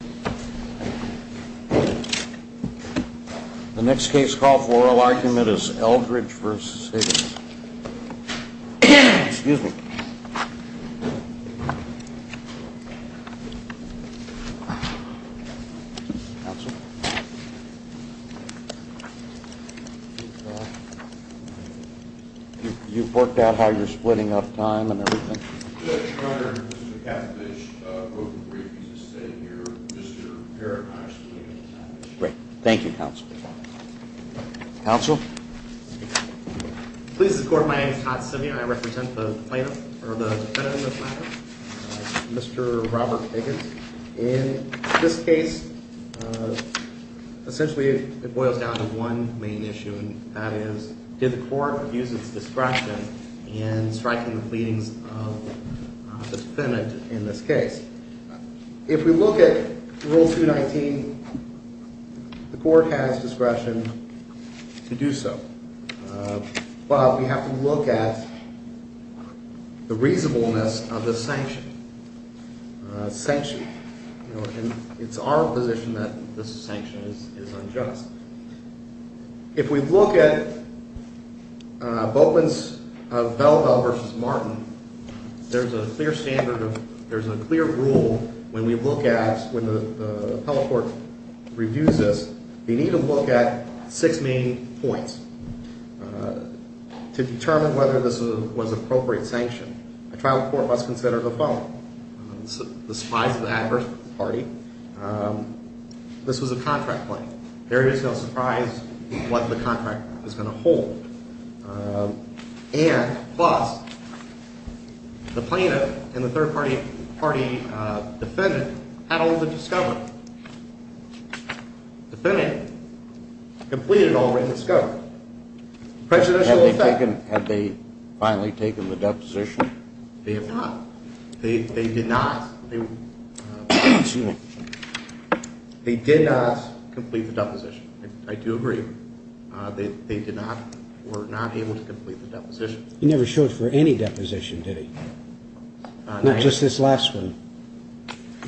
The next case call for oral argument is Eldridge v. Higgins. You've worked out how you're splitting up time and everything? Your Honor, Mr. McAfee has spoken briefly, he's just standing here. Mr. Parakash will lead us out of this case. Thank you, Counsel. Counsel? Please, Your Honor, my name is Todd Simeon, I represent the plaintiff, or the defendant of the plaintiff, Mr. Robert Higgins. In this case, essentially it boils down to one main issue, and that is did the court use its discretion in striking the pleadings of the defendant in this case? If we look at Rule 219, the court has discretion to do so. But we have to look at the reasonableness of the sanction. It's our position that this sanction is unjust. If we look at Boatman's Belleville v. Martin, there's a clear standard of, there's a clear rule when we look at, when the appellate court reviews this, we need to look at six main points to determine whether this was an appropriate sanction. A trial court must consider the following. The spies of the adverse party. This was a contract claim. There is no surprise what the contract is going to hold. And, plus, the plaintiff and the third-party defendant had already discovered, the defendant completed already discovered. Prejudicial effect. Had they finally taken the deposition? They have not. They did not. They did not complete the deposition. I do agree. They did not, were not able to complete the deposition. He never showed for any deposition, did he? Not just this last one.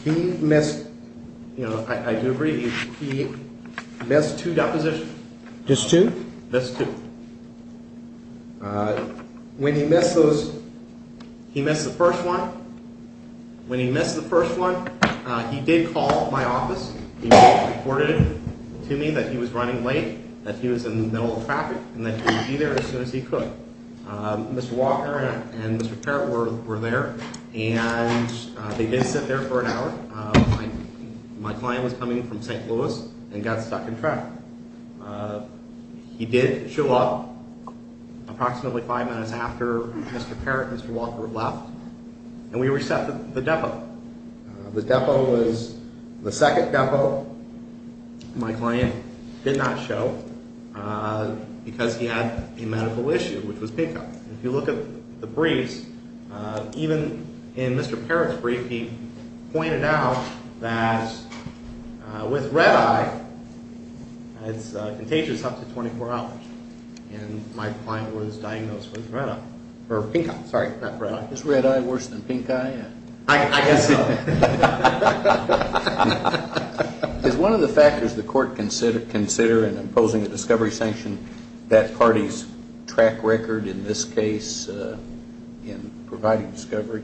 He missed, you know, I do agree. He missed two depositions. Just two? Missed two. When he missed those, he missed the first one. When he missed the first one, he did call my office. He reported to me that he was running late, that he was in the middle of traffic, and that he would be there as soon as he could. Mr. Walker and Mr. Parrot were there. And they did sit there for an hour. My client was coming in from St. Louis and got stuck in traffic. He did show up approximately five minutes after Mr. Parrot and Mr. Walker left. And we reset the depot. The depot was the second depot my client did not show because he had a medical issue, which was pickup. If you look at the briefs, even in Mr. Parrot's brief, he pointed out that with red eye, it's contagious up to 24 hours. And my client was diagnosed with red eye, or pink eye, sorry, not red eye. Is red eye worse than pink eye? I guess so. Is one of the factors the court consider in imposing a discovery sanction that parties track record in this case in providing discovery?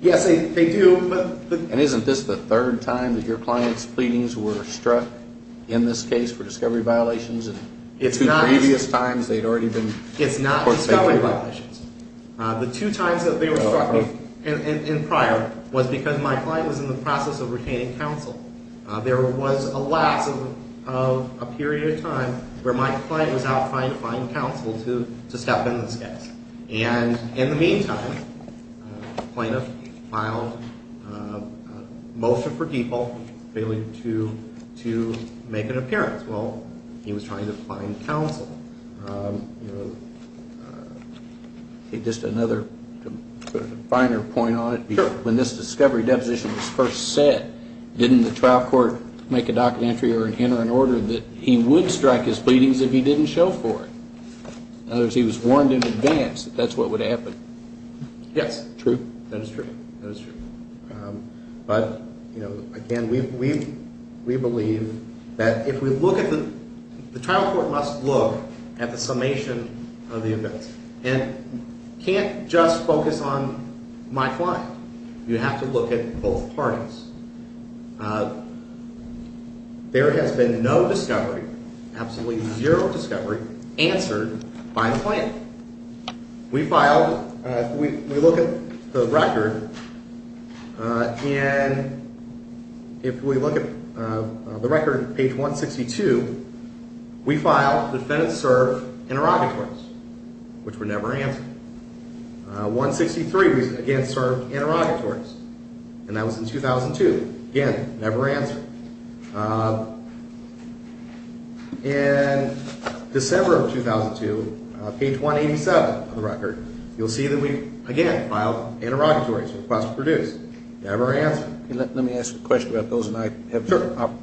Yes, they do. And isn't this the third time that your client's pleadings were struck in this case for discovery violations? It's not. In previous times, they'd already been. It's not discovery violations. The two times that they were struck in prior was because my client was in the process of retaining counsel. There was a lapse of a period of time where my client was out trying to find counsel to step in this case. And in the meantime, plaintiff filed a motion for depot failing to make an appearance. Well, he was trying to find counsel. Just another finer point on it, when this discovery deposition was first set, didn't the trial court make a docket entry or enter an order that he would strike his pleadings if he didn't show for it? In other words, he was warned in advance that that's what would happen. Yes. True. That is true. That is true. But, you know, again, we believe that if we look at the – the trial court must look at the summation of the events and can't just focus on my client. You have to look at both parties. There has been no discovery, absolutely zero discovery, answered by the plaintiff. We filed – we look at the record, and if we look at the record on page 162, we filed defendants serve interrogatories, which were never answered. 163, again, served interrogatories, and that was in 2002. Again, never answered. In December of 2002, page 187 of the record, you'll see that we, again, filed interrogatories, requests produced, never answered. Let me ask a question about those, and I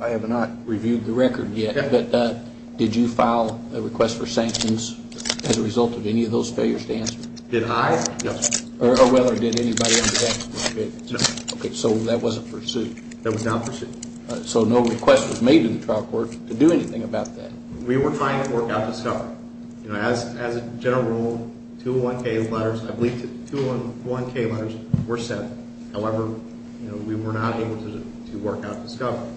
have not reviewed the record yet, but did you file a request for sanctions as a result of any of those failures to answer? Did I? No. Or did anybody else? No. Okay. So that wasn't pursued? That was not pursued. So no request was made to the trial court to do anything about that? We were trying to work out discovery. As a general rule, 201K letters – I believe 201K letters were sent. However, we were not able to work out discovery.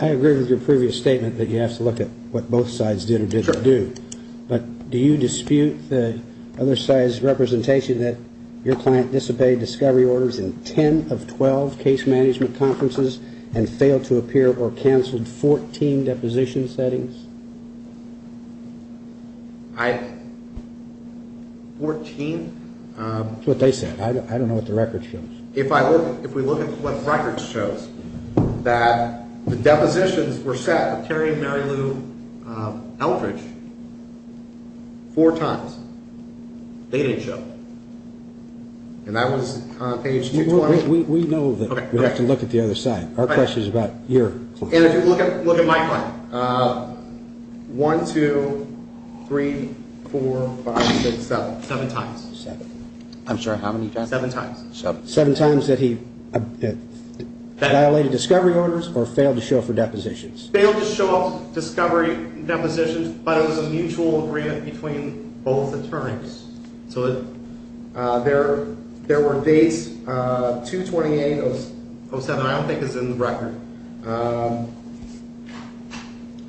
I agree with your previous statement that you have to look at what both sides did or didn't do. Sure. But do you dispute the other side's representation that your client disobeyed discovery orders in 10 of 12 case management conferences and failed to appear or canceled 14 deposition settings? I – 14? That's what they said. I don't know what the record shows. If I look – if we look at what the record shows, that the depositions were set with Terry and Mary Lou Eldridge four times. They didn't show. And that was on page 220. We know that we have to look at the other side. Our question is about your client. And if you look at my client, 1, 2, 3, 4, 5, 6, 7. Seven times. Seven. I'm sorry, how many times? Seven times. Seven times that he violated discovery orders or failed to show for depositions? Failed to show up for discovery and depositions, but it was a mutual agreement between both attorneys. So there were dates 2-28-07. I don't think it's in the record.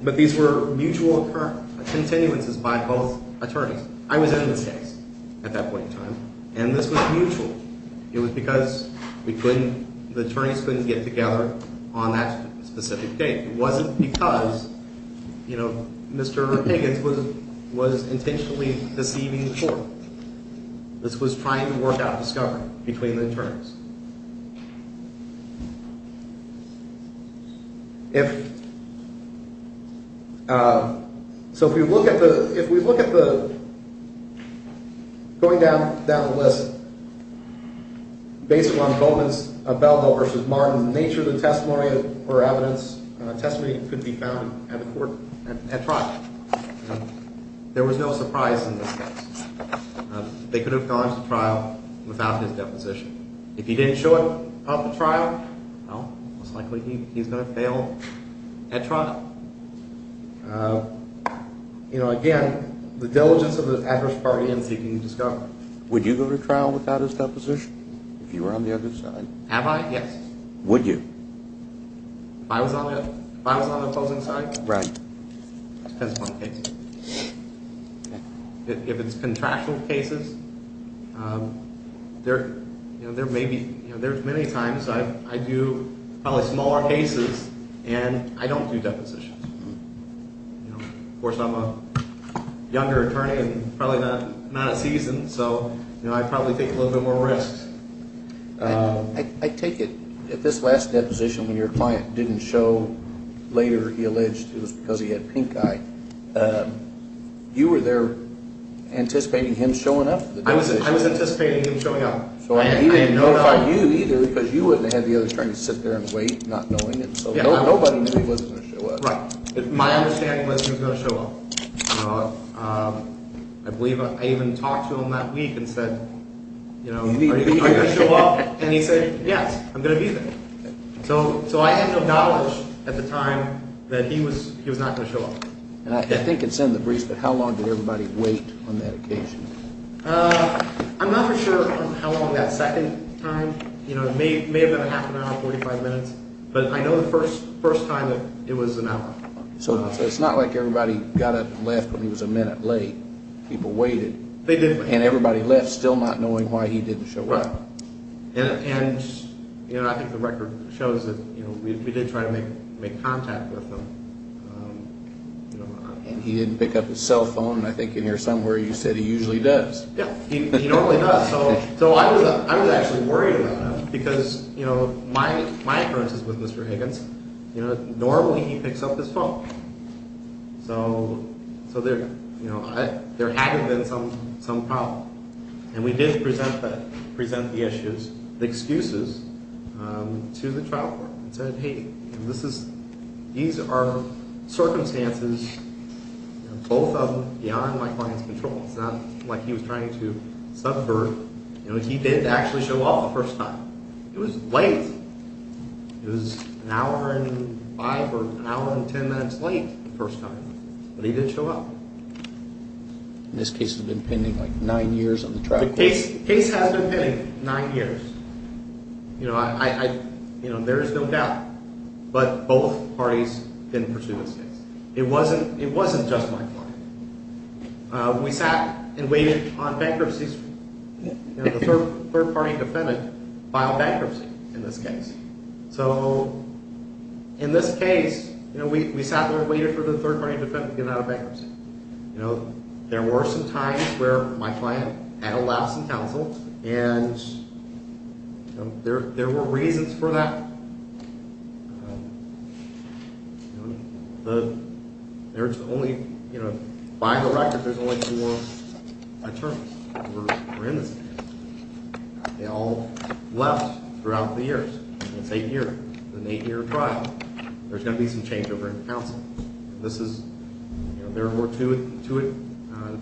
But these were mutual continuances by both attorneys. I was in this case at that point in time. And this was mutual. It was because we couldn't – the attorneys couldn't get together on that specific date. It wasn't because, you know, Mr. Higgins was intentionally deceiving the court. This was trying to work out discovery between the attorneys. So if we look at the – if we look at the – going down the list, based on Bowman's – Bellville v. Martin, the nature of the testimony or evidence – testimony could be found at the court – at trial. There was no surprise in this case. They could have gone to trial without his deposition. If he didn't show up at the trial, well, most likely he's going to fail at trial. You know, again, the diligence of the adverse party in seeking discovery. Would you go to trial without his deposition if you were on the other side? Have I? Yes. Would you? If I was on the opposing side? Right. Depends upon the case. If it's contractual cases, there – you know, there may be – you know, there's many times I do probably smaller cases and I don't do depositions. You know, of course, I'm a younger attorney and probably not – not at season. So, you know, I probably take a little bit more risks. I take it at this last deposition when your client didn't show later, he alleged it was because he had pink eye. You were there anticipating him showing up at the deposition? I was anticipating him showing up. So he didn't notify you either because you wouldn't have had the other attorney sit there and wait not knowing it. So nobody knew he wasn't going to show up. Right. My understanding was he was going to show up. I believe I even talked to him that week and said, you know, are you going to show up? And he said, yes, I'm going to be there. So I had no knowledge at the time that he was not going to show up. And I think it's in the briefs that how long did everybody wait on that occasion? I'm not for sure how long that second time. You know, it may have been a half an hour, 45 minutes. But I know the first time that it was an hour. So it's not like everybody got up and left when he was a minute late. People waited. And everybody left still not knowing why he didn't show up. And I think the record shows that we did try to make contact with him. And he didn't pick up his cell phone. And I think in here somewhere you said he usually does. He normally does. So I was actually worried about him. Because, you know, my appearances with Mr. Higgins, you know, normally he picks up his phone. So there hadn't been some problem. And we did present the issues, the excuses, to the trial court. And said, hey, these are circumstances, both of them, beyond my client's control. It's not like he was trying to suffer. You know, he did actually show up the first time. It was late. It was an hour and five or an hour and ten minutes late the first time. But he did show up. And this case has been pending like nine years on the trial court? The case has been pending nine years. You know, there is no doubt. But both parties didn't pursue this case. It wasn't just my client. We sat and waited on bankruptcies. You know, the third party defendant filed bankruptcy in this case. So in this case, you know, we sat there and waited for the third party defendant to get out of bankruptcy. You know, there were some times where my client had a lapse in counsel. And there were reasons for that. You know, there's only, you know, by the record, there's only four attorneys who were in this case. They all left throughout the years. It's eight years. It's an eight-year trial. There's going to be some changeover in counsel. This is, you know, there were two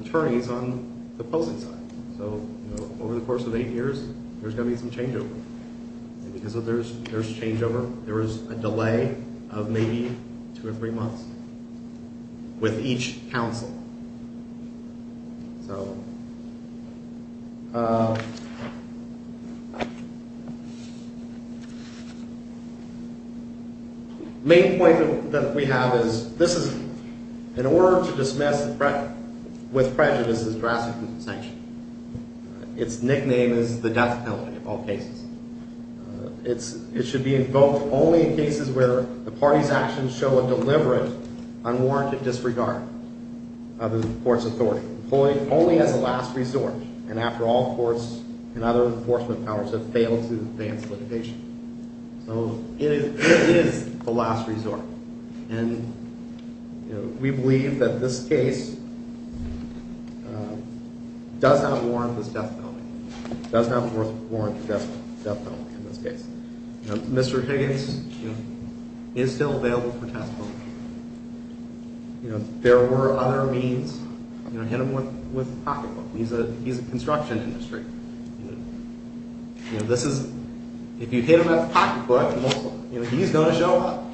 attorneys on the opposing side. So, you know, over the course of eight years, there's going to be some changeover. And because of there's changeover, there is a delay of maybe two or three months with each counsel. Main point that we have is this is, in order to dismiss with prejudice is drastically sanctioned. Its nickname is the death penalty of all cases. It should be invoked only in cases where the party's actions show a deliberate unwarranted disregard of the court's authority. Employed only as a last resort. And after all, courts and other enforcement powers have failed to advance litigation. So it is the last resort. And, you know, we believe that this case does not warrant this death penalty. It does not warrant the death penalty in this case. Mr. Higgins is still available for testimony. You know, there were other means. You know, hit him with a pocketbook. He's a construction industry. You know, this is, if you hit him with a pocketbook, you know, he's going to show up.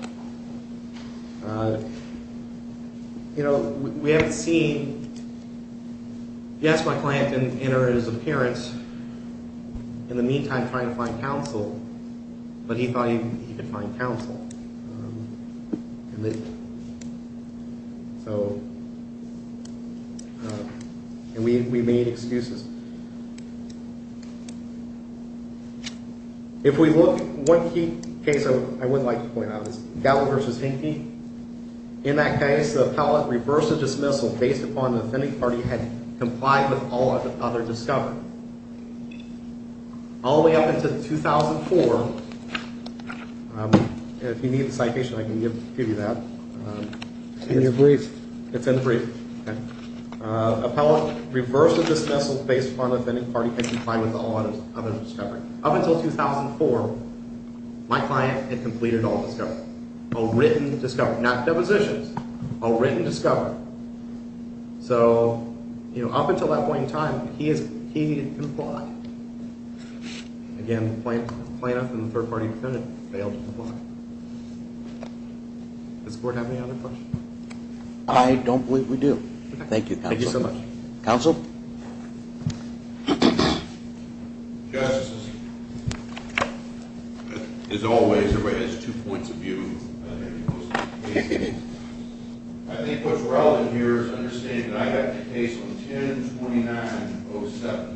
You know, we haven't seen, yes, my client didn't enter his appearance. In the meantime, trying to find counsel. But he thought he could find counsel. So, and we made excuses. If we look, one key case I would like to point out is Gallo versus Hinckley. In that case, the appellate reversed the dismissal based upon the offending party had complied with all other discovery. All the way up until 2004. If you need the citation, I can give you that. It's in the brief. It's in the brief. Appellate reversed the dismissal based upon the offending party had complied with all other discovery. Up until 2004, my client had completed all discovery. A written discovery. Not depositions. A written discovery. So, you know, up until that point in time, he complied. Again, plaintiff and the third party defendant failed to comply. Does the court have any other questions? I don't believe we do. Thank you, counsel. Thank you so much. Counsel? Justice, as always, everybody has two points of view. I think what's relevant here is understanding that I had the case on 10-29-07.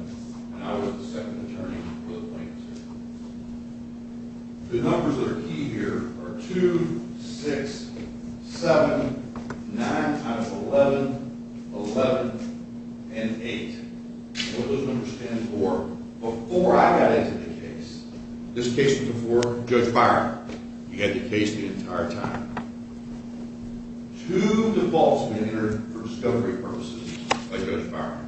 The numbers that are key here are 2-6-7-9-11-11-8. Those numbers stand for before I got into the case. This case was before Judge Byron. He had the case the entire time. Two defaults had been entered for discovery purposes by Judge Byron.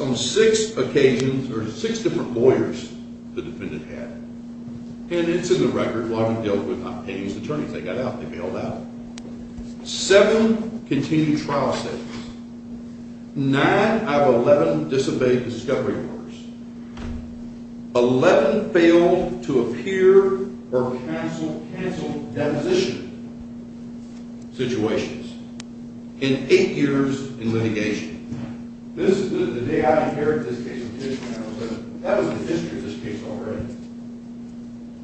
On six occasions, or six different lawyers, the defendant had. And it's in the record, why we dealt with not paying his attorneys. They got out. They bailed out. Seven continued trial statements. Nine out of 11 disobeyed discovery orders. Eleven failed to appear or cancel deposition situations. And eight years in litigation. The day I appeared in this case, that was the history of this case already.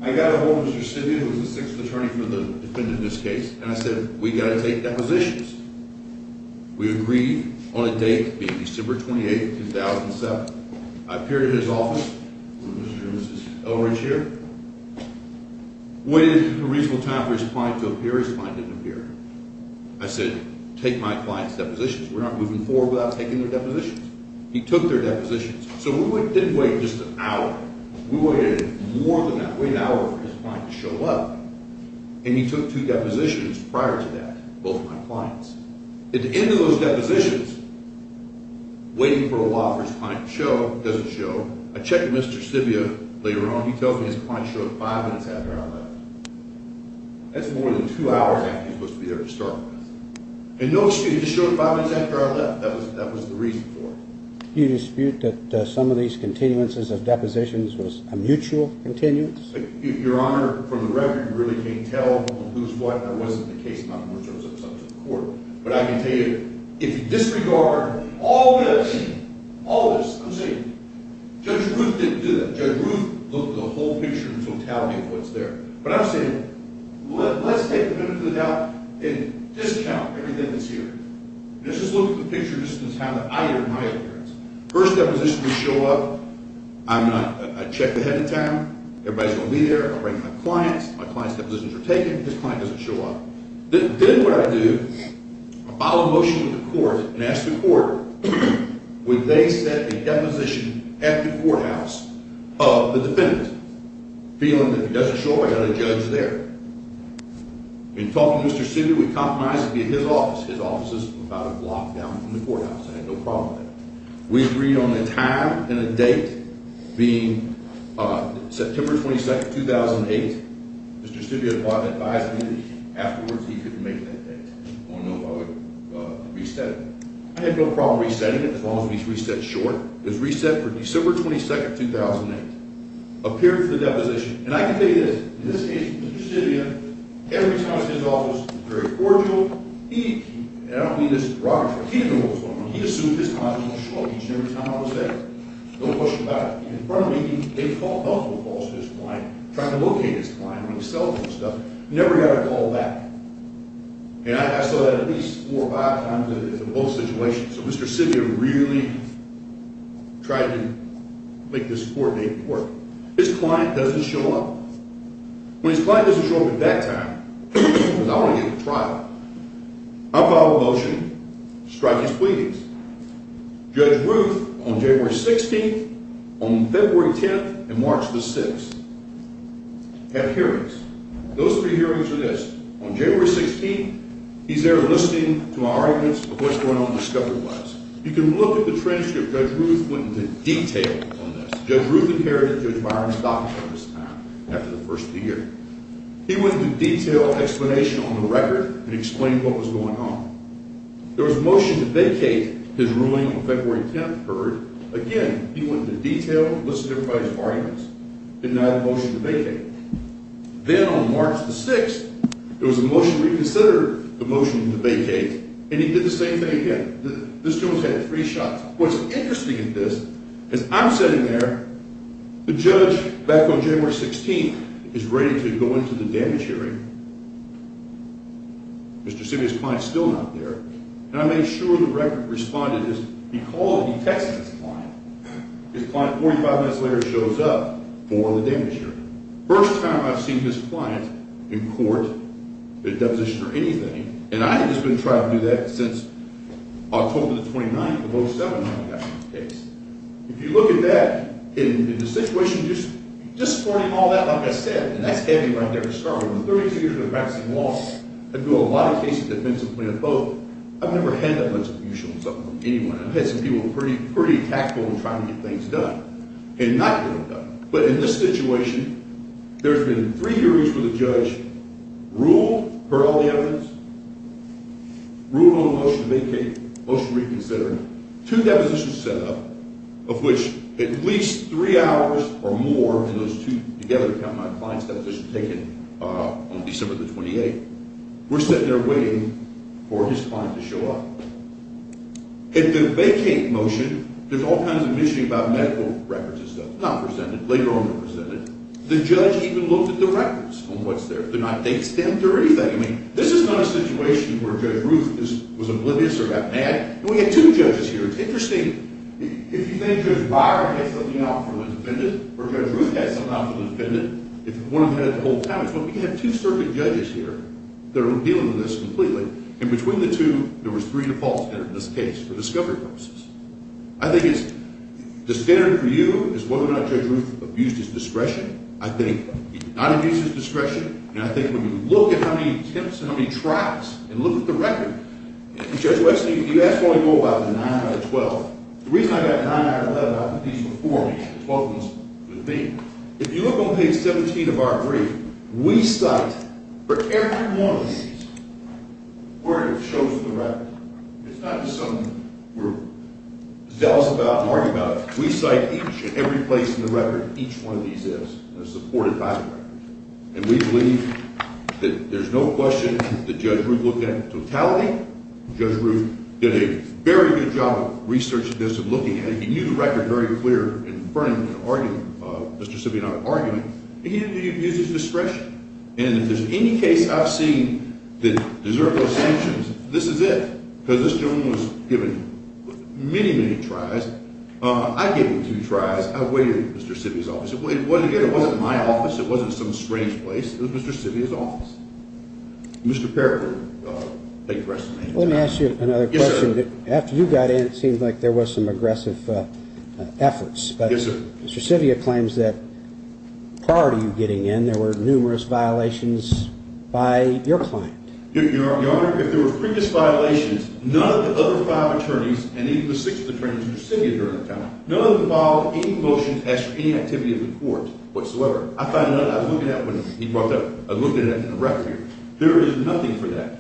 I got ahold of Mr. Sidney, who was the sixth attorney for the defendant in this case. And I said, we've got to take depositions. We agreed on a date being December 28, 2007. I appeared in his office. Mr. and Mrs. Elridge here. Waited a reasonable time for his client to appear. His client didn't appear. I said, take my client's depositions. We're not moving forward without taking their depositions. He took their depositions. So we didn't wait just an hour. We waited more than that. Waited an hour for his client to show up. And he took two depositions prior to that. Both my clients. At the end of those depositions, waiting for a law for his client to show. Doesn't show. I checked with Mr. Sibbia later on. He tells me his client showed five minutes after I left. That's more than two hours after he was supposed to be there to start with. And no excuse. He just showed five minutes after I left. That was the reason for it. You dispute that some of these continuances of depositions was a mutual continuance? Your Honor, from the record, you really can't tell who's what. That wasn't the case. I'm not going to throw this up in front of the court. But I can tell you, if you disregard all this. All this. I'm saying. Judge Ruth didn't do that. Judge Ruth looked at the whole picture in totality of what's there. But I'm saying. Let's take the minute of the doubt. And discount everything that's here. Let's just look at the picture. This is how I heard my appearance. First deposition would show up. I'm not. I checked ahead of time. Everybody's going to be there. I'll bring my clients. My client's depositions are taken. His client doesn't show up. Then what I do. I file a motion with the court. And ask the court. Would they set a deposition at the courthouse. Of the defendant. Feeling that if he doesn't show up. I've got a judge there. We talked to Mr. Stibia. We compromised. It would be at his office. His office is about a block down from the courthouse. I had no problem with that. We agreed on a time and a date. Being. September 22, 2008. Mr. Stibia advised me. Afterwards he could make that date. Or no. I would reset it. I had no problem resetting it. As long as we reset short. It was reset for December 22, 2008. Appeared for the deposition. And I can tell you this. In this case. Mr. Stibia. Every time his office. Was very cordial. He. And I don't mean this in a derogatory way. He didn't know what was going on. He assumed his client was going to show up. Each and every time I was there. No question about it. In front of me. They called. Multiple calls to his client. Trying to locate his client. On his cell phone and stuff. Never had a call back. And I saw that at least. Four or five times. In both situations. So Mr. Stibia really. Tried to. Make this court date work. His client doesn't show up. When his client doesn't show up. At that time. Because I want to get a trial. I filed a motion. Strike his pleadings. Judge Ruth. On January 16th. On February 10th. And March the 6th. Have hearings. Those three hearings are this. On January 16th. He's there listening. To my arguments. Of what's going on. In the discovery labs. You can look at the transcript. Judge Ruth. Went into detail. On this. Judge Ruth. Inherited. Judge Byron's documents. From this time. After the first year. He went into detail. Explanation. On the record. And explained what was going on. There was a motion to vacate. His ruling. On February 10th. Occurred. Again. He went into detail. Listened to everybody's arguments. Denied the motion to vacate. Then on March the 6th. There was a motion reconsidered. The motion to vacate. And he did the same thing again. This judge had three shots. What's interesting in this. As I'm sitting there. The judge. Back on January 16th. Is ready to go into the damage hearing. Mr. Simi's client is still not there. And I made sure the record responded. Because he texted his client. His client 45 minutes later. Shows up. For the damage hearing. First time I've seen his client. In court. In a deposition or anything. And I had just been trying to do that. Since. October the 29th. When I got my case. If you look at that. In the situation. Just supporting all that. Like I said. And that's heavy right there to start with. 30 years of practicing law. I do a lot of cases. Defensively in both. I've never had that much confusion. With anyone. I've had some people. Pretty tactical. In trying to get things done. And not get them done. But in this situation. There's been three hearings. With a judge. Ruled. Per all the evidence. Ruled on the motion to vacate. Motion to reconsider. Two depositions set up. Of which. At least. Three hours. Or more. In those two. Together. Counting my clients. Deposition taken. On December the 28th. We're sitting there waiting. For his client to show up. Had the vacate motion. There's all kinds of. Mentioning about medical. Records and stuff. Not presented. Later on. They're presented. The judge. Even looked at the records. On what's there. They're not. They. Stamped or anything. I mean. This is not a situation. Where Judge Ruth. Was oblivious. Or got mad. And we have two judges here. It's interesting. If you think. Judge Byron. Had something out for the defendant. Or Judge Ruth. Had something out for the defendant. If one of them. Had it the whole time. It's what we have. Two circuit judges here. That are dealing with this. Completely. And between the two. There was three defaults. In this case. For discovery purposes. I think it's. The standard for you. Is whether or not. Judge Ruth. Abused his discretion. I think. He did not abuse his discretion. And I think. When you look. At how many attempts. And how many tries. And look at the record. Judge West. You asked. What I know about. The nine out of twelve. The reason. I got nine out of eleven. I put these before me. The twelve ones. With me. If you look. On page seventeen. Of our brief. We cite. For every one of these. Word that shows. In the record. It's not just something. We're. Zealous about. Arguing about. We cite each. And every place. In the record. Each one of these is. Supported by the record. And we believe. That. There's no question. That Judge Ruth. Looked at. In totality. Judge Ruth. Did a. Very good job. Of research. This. Of looking at it. He knew the record. Very clear. In front of him. In an argument. Of. Mr. Sibbia and I. In an argument. And he didn't. Abuse his discretion. And if there's any case. I've seen. That deserves. Those sanctions. This is it. Because this gentleman. Was given. Many, many tries. I gave him two tries. I waited. At Mr. Sibbia's office. It wasn't here. It wasn't my office. It wasn't some strange place. It was Mr. Sibbia's office. Mr. Parker. Thank you for asking me. Let me ask you another question. Yes sir. After you got in. It seems like there was some aggressive. Efforts. Yes sir. Mr. Sibbia claims that. If there were previous violations. None of the other five attorneys. That were in the case. Were in the case. None of the other five attorneys. That were in the case. None of the other five attorneys. And even the sixth attorney. Mr. Sibbia. During the time. None of them filed. Any motions. As for any activity. Of the court. What so ever. I found none. I was looking at. When he brought that up. I was looking at it. In the record. There is nothing for that.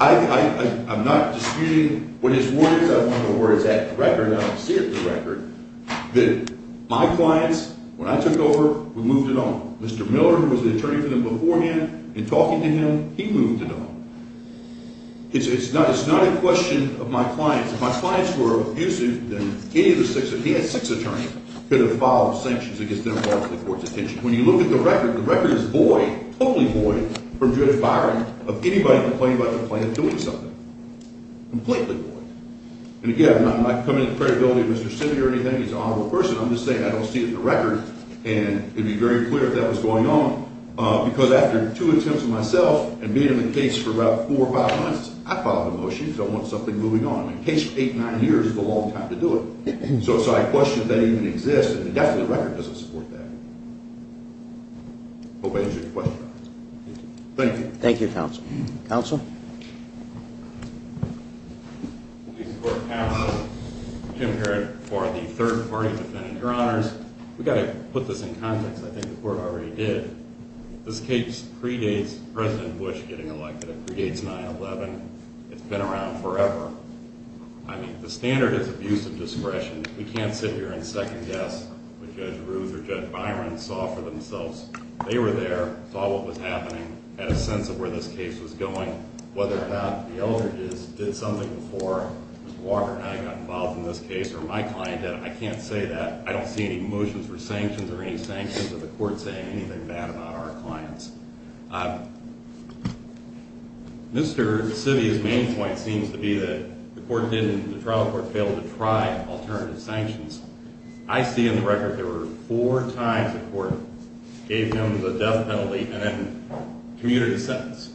I'm not disputing. What his word is. I want the word. It's in the record. I want to see it in the record. That my clients. When I took over. We moved it on. Mr. Miller. Who was the attorney for them. Before hand. In talking to him. He moved it on. It's not. It's not a question. It's a question. Of my clients. If my clients were abusive. Then. Any of the six. If he had six attorneys. Could have filed sanctions. Against them. For the court's attention. When you look at the record. The record is void. Totally void. From Judge Byron. Of anybody. Complaining about. Complaining. Doing something. Completely void. And again. I'm not coming. To the credibility. Of Mr. Sibbia. Or anything. He's an honorable person. I'm just saying. I don't see it in the record. And. It would be very clear. If that was going on. Because after. Two attempts. Myself. And being in the case. For about. Four or five months. I filed a motion. Because I want something. Moving on. In a case. Eight. Nine years. Is a long time. To do it. So. I question. If that even exists. And definitely. The record doesn't support that. I hope I answered your question. Thank you. Thank you. Counsel. Counsel. Police Court. Counsel. Jim Herron. For the third party. Defendant. Your Honor. We've got to put this in context. I think the court already did. This case. Predates. President Bush. Getting elected. It predates 9-11. It's been around forever. I mean. The standard is abuse of discretion. We can't sit here. And second guess. What Judge Ruth. Or Judge Byron. Saw for themselves. They were there. Saw what was happening. Had a sense of where this case was going. The Eldridge's. Did something before. Mr. Walker and I. Got involved in this case. Or my client did. I can't say that. I don't know. I can't see any motions. Or sanctions. Or any sanctions. Or the court saying. Anything bad. About our clients. Mr. Civia's. Main point. Seems to be that. The court didn't. The trial court. Failed to try. Alternative sanctions. I see in the record. There were. Four times. The court. Gave him. The death penalty. And then. Commuted his sentence.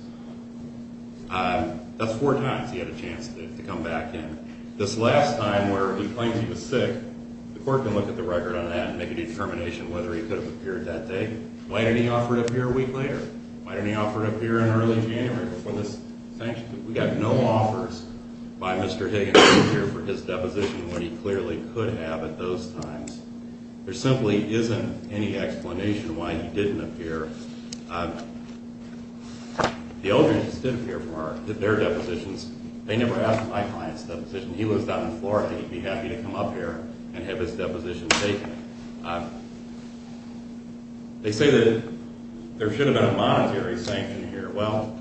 That's four times. He had a chance. To come back in. This last time. Where he claims. He was sick. The court. Can look at the record. And make a determination. Whether he could have appeared. That day. Why didn't he offer to appear. A week later. Why didn't he offer to appear. In early January. Before this. Sanctions. We got no offers. By Mr. Higgins. To appear. For his deposition. When he clearly. Could have. At those times. There simply isn't. Any explanation. Why he didn't appear. The elders. Did appear. From our. Their depositions. They never asked. My client's. Deposition. He was down in Florida. He'd be happy. To come up here. And have his. Deposition. Taken. They say that. There should have been. A monetary. Sanction. Here. Well.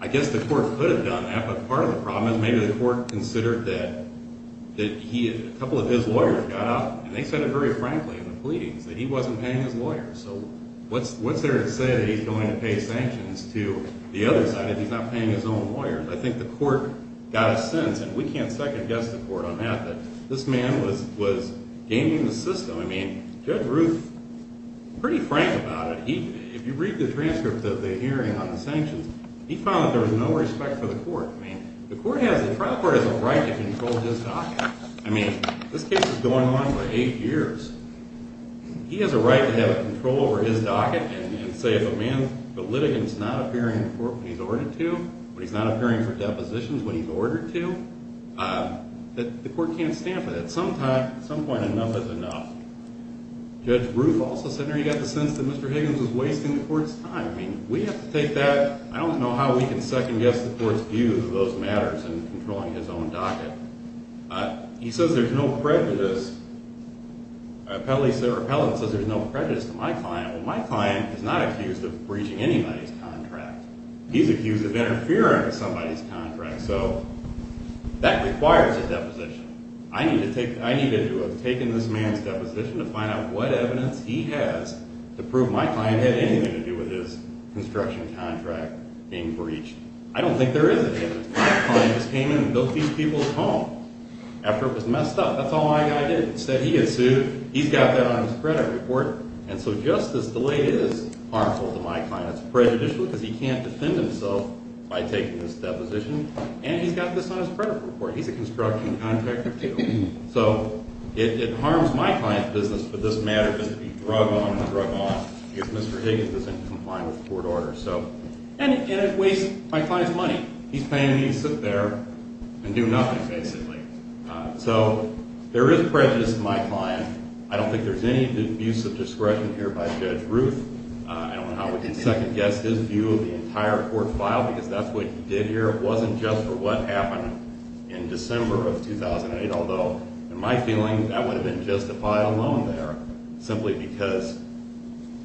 I guess the court. Could have done that. But part of the problem. Is maybe the court. Considered that. That he. A couple of his lawyers. Got out. And they said it very frankly. In the pleadings. That he wasn't paying. His lawyers. So what's. What's there to say. That he's going to pay. Sanctions. To the other side. If he's not paying. His own lawyers. I think the court. Got a sense. And we can't second guess. The court. On that. That this man. Was gaining the system. I mean. Judge Ruth. Pretty frank. About it. He. If you read the transcript. Of the hearing. On the sanctions. He found. That there was no respect. For the court. I mean. The court has. The trial court. Has a right. To control his docket. I mean. This case. Is going on. For eight years. He has a right. To have a control. Over his docket. He has a right. And say. If a man. The litigant. Is not appearing. In court. When he's ordered to. When he's not appearing. For depositions. When he's ordered to. That the court. Can't stand for that. At some time. At some point. Enough is enough. Judge Ruth. Also said. There you got the sense. That Mr. Higgins. Was wasting the court's time. I mean. We have to take that. I don't know. How we can second guess. The court's view. Of those matters. In controlling his own docket. He says. There's no prejudice. My client. Is not accused. Of breaching. Anybody's contract. He's accused. Of interfering. With somebody's contract. So. That requires. A deposition. I need. To take. I need. To have taken. This man's deposition. To find out. What evidence. He has. To prove my client. Had anything. To do with his. Construction contract. Being breached. I don't think. There is any evidence. My client. Just came in. And built these people's home. After it was messed up. That's all my guy did. Instead. He gets sued. He's got that. On his credit report. And so. Justice. Delayed. Is harmful. To my client. It's prejudicial. Because he can't defend himself. By taking this deposition. And he's got this. On his credit report. He's a construction. Contractor too. So. It harms. My client's business. For this matter. To be drug on. And drug off. Because Mr. Higgins. Doesn't comply. With court orders. So. And it wastes. My client's money. He's paying me. To sit there. And do nothing. Basically. So. There is prejudice. In my client. I don't think there's any. Abuse of discretion. Here. By Judge Ruth. I don't know. How we can second guess. His view. Of the entire court file. Because that's what he did here. It wasn't just. For what happened. In December. Of 2008. Although. In my feeling. That would have been justified. Alone there. Simply because.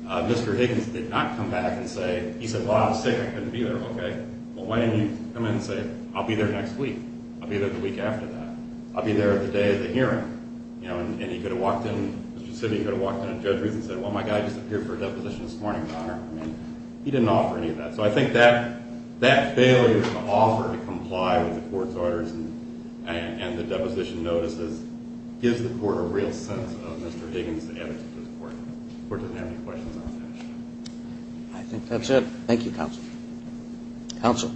Mr. Higgins. Did not come back. And say. He said. Well. I was sick. I couldn't be there. Okay. Well. Why didn't you come in and say. I'll be there next week. I'll be there the week after that. I'll be there the day of the hearing. You know. And he could have walked in. Specifically. He could have walked in. And Judge Ruth. And said. Well. My guy just appeared for a deposition this morning. Your Honor. I mean. He didn't offer any of that. So. I think that. That failure. To offer. To comply. With the court's orders. And the deposition notices. Gives the court. A real sense. Of Mr. Higgins. The attitude of the court. The court doesn't have any questions. I'll finish. I think. That's it. Thank you. Counsel. Counsel.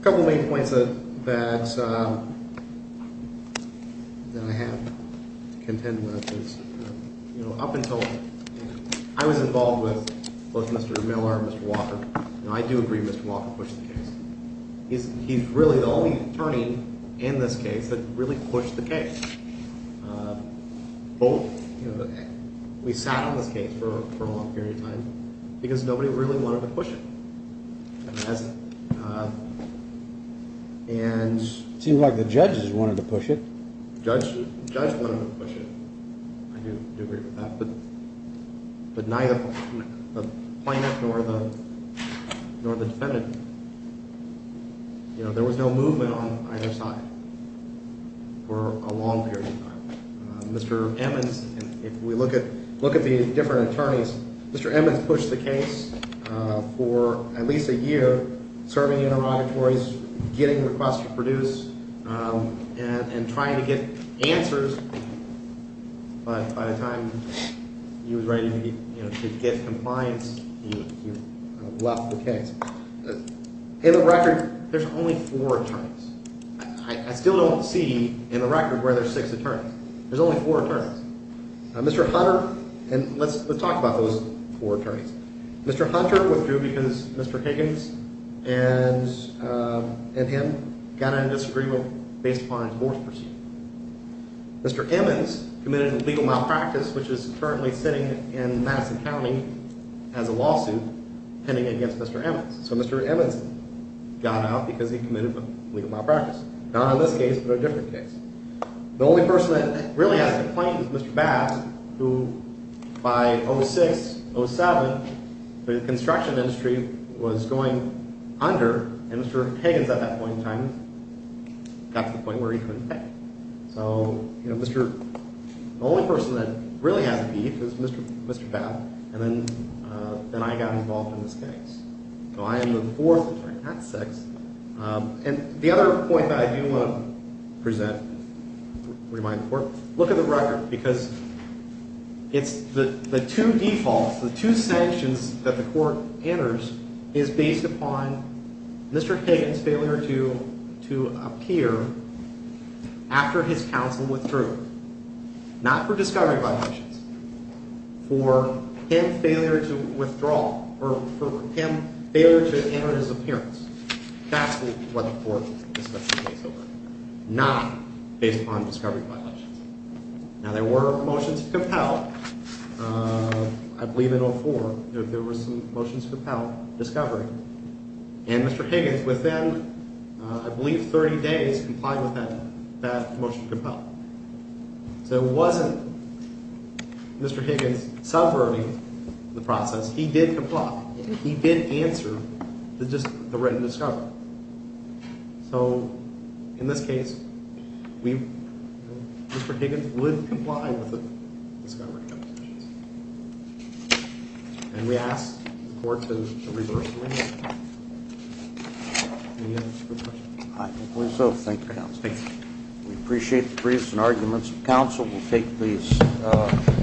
A couple of main points. And say. Well. My guy just appeared for a deposition this morning. Your Honor. I mean. He didn't offer any of that. To comply with the court's orders. I'll finish. I was involved with. Both Mr. Miller. And Mr. Walker. And I do agree. Mr. Walker pushed the case. He's. He's really the only. Attorney. In this case. That really pushed the case. Both. You know. We sat on this case. For a long period of time. Because nobody really wanted to push it. And. I do. Do agree with that. But. My guy just appeared for a deposition this morning. Your Honor. I mean. He didn't offer any of that. I'll finish. But. Neither. The plaintiff. Nor the. Nor the defendant. You know. There was no movement on either side. For a long period of time. Mr. Emmons. If we look at. Look at the different attorneys. Mr. Emmons pushed the case. For at least a year. But. By the time. You know. He's. He's. He's. He's. He's. He's. He's. He's. He's. And the minute Mr. Emmons. He was ready. To get compliance. You. Left the case. In. The record there's only four attorneys. I. Don't see. In the record. Whether six attorneys. There's only four attorneys. Mr. Hunter. Talk about those four attorneys. Mr. Hunter, withdrew because. Mr. Higgins. And. And him. Got into disagreeable. Based. On his force proceeding. Mr. Emmons. Committed. A legal malpractice. Which is. Currently. Sitting. In Madison County. As a lawsuit. Pending against Mr. Emmons. So Mr. Emmons. Got out. Because he committed. A legal malpractice. Not on this case. But a different case. The only person. That really has. Complaint. Is Mr. Bass. Who. By. 06. 07. The construction industry. Was going. Under. And Mr. Higgins. At that point in time. Got to the point. Where he couldn't pay. So. You know. Mr. The only person. That really has a beef. Is Mr. Bass. And then. Then I got involved. In this case. So I am. The fourth attorney. Not the sixth. And. The other point. That I do want. To present. To remind the court. Look at the record. Because. It's. The two defaults. The two sanctions. That the court. Enters. Is based upon. Mr. Higgins. Failure. To. Appear. After. His counsel. Withdrew. Not. For discovery violations. For. Him. Failure. To. Withdraw. For. Him. Failure. To. Enter his. Appearance. That's. What the court. Not. Based upon discovery violations. Now. There were. Motions. Compelled. I believe. In 04. There were some. Motions. Compelled. By. Discovery. Mr. Higgins. Within. I believe. 30 days. Comply with that. That. Motion. Compelled. So. It wasn't. Mr. Higgins. Subverting. The process. He did comply. He did answer. To just. The written discovery. So. In this case. We. Mr. Higgins. Would comply. With the. Discovery. And. We asked. The. Court. To. Reverse. I. Think. We appreciate. The briefs. And arguments. Council. Will. Take.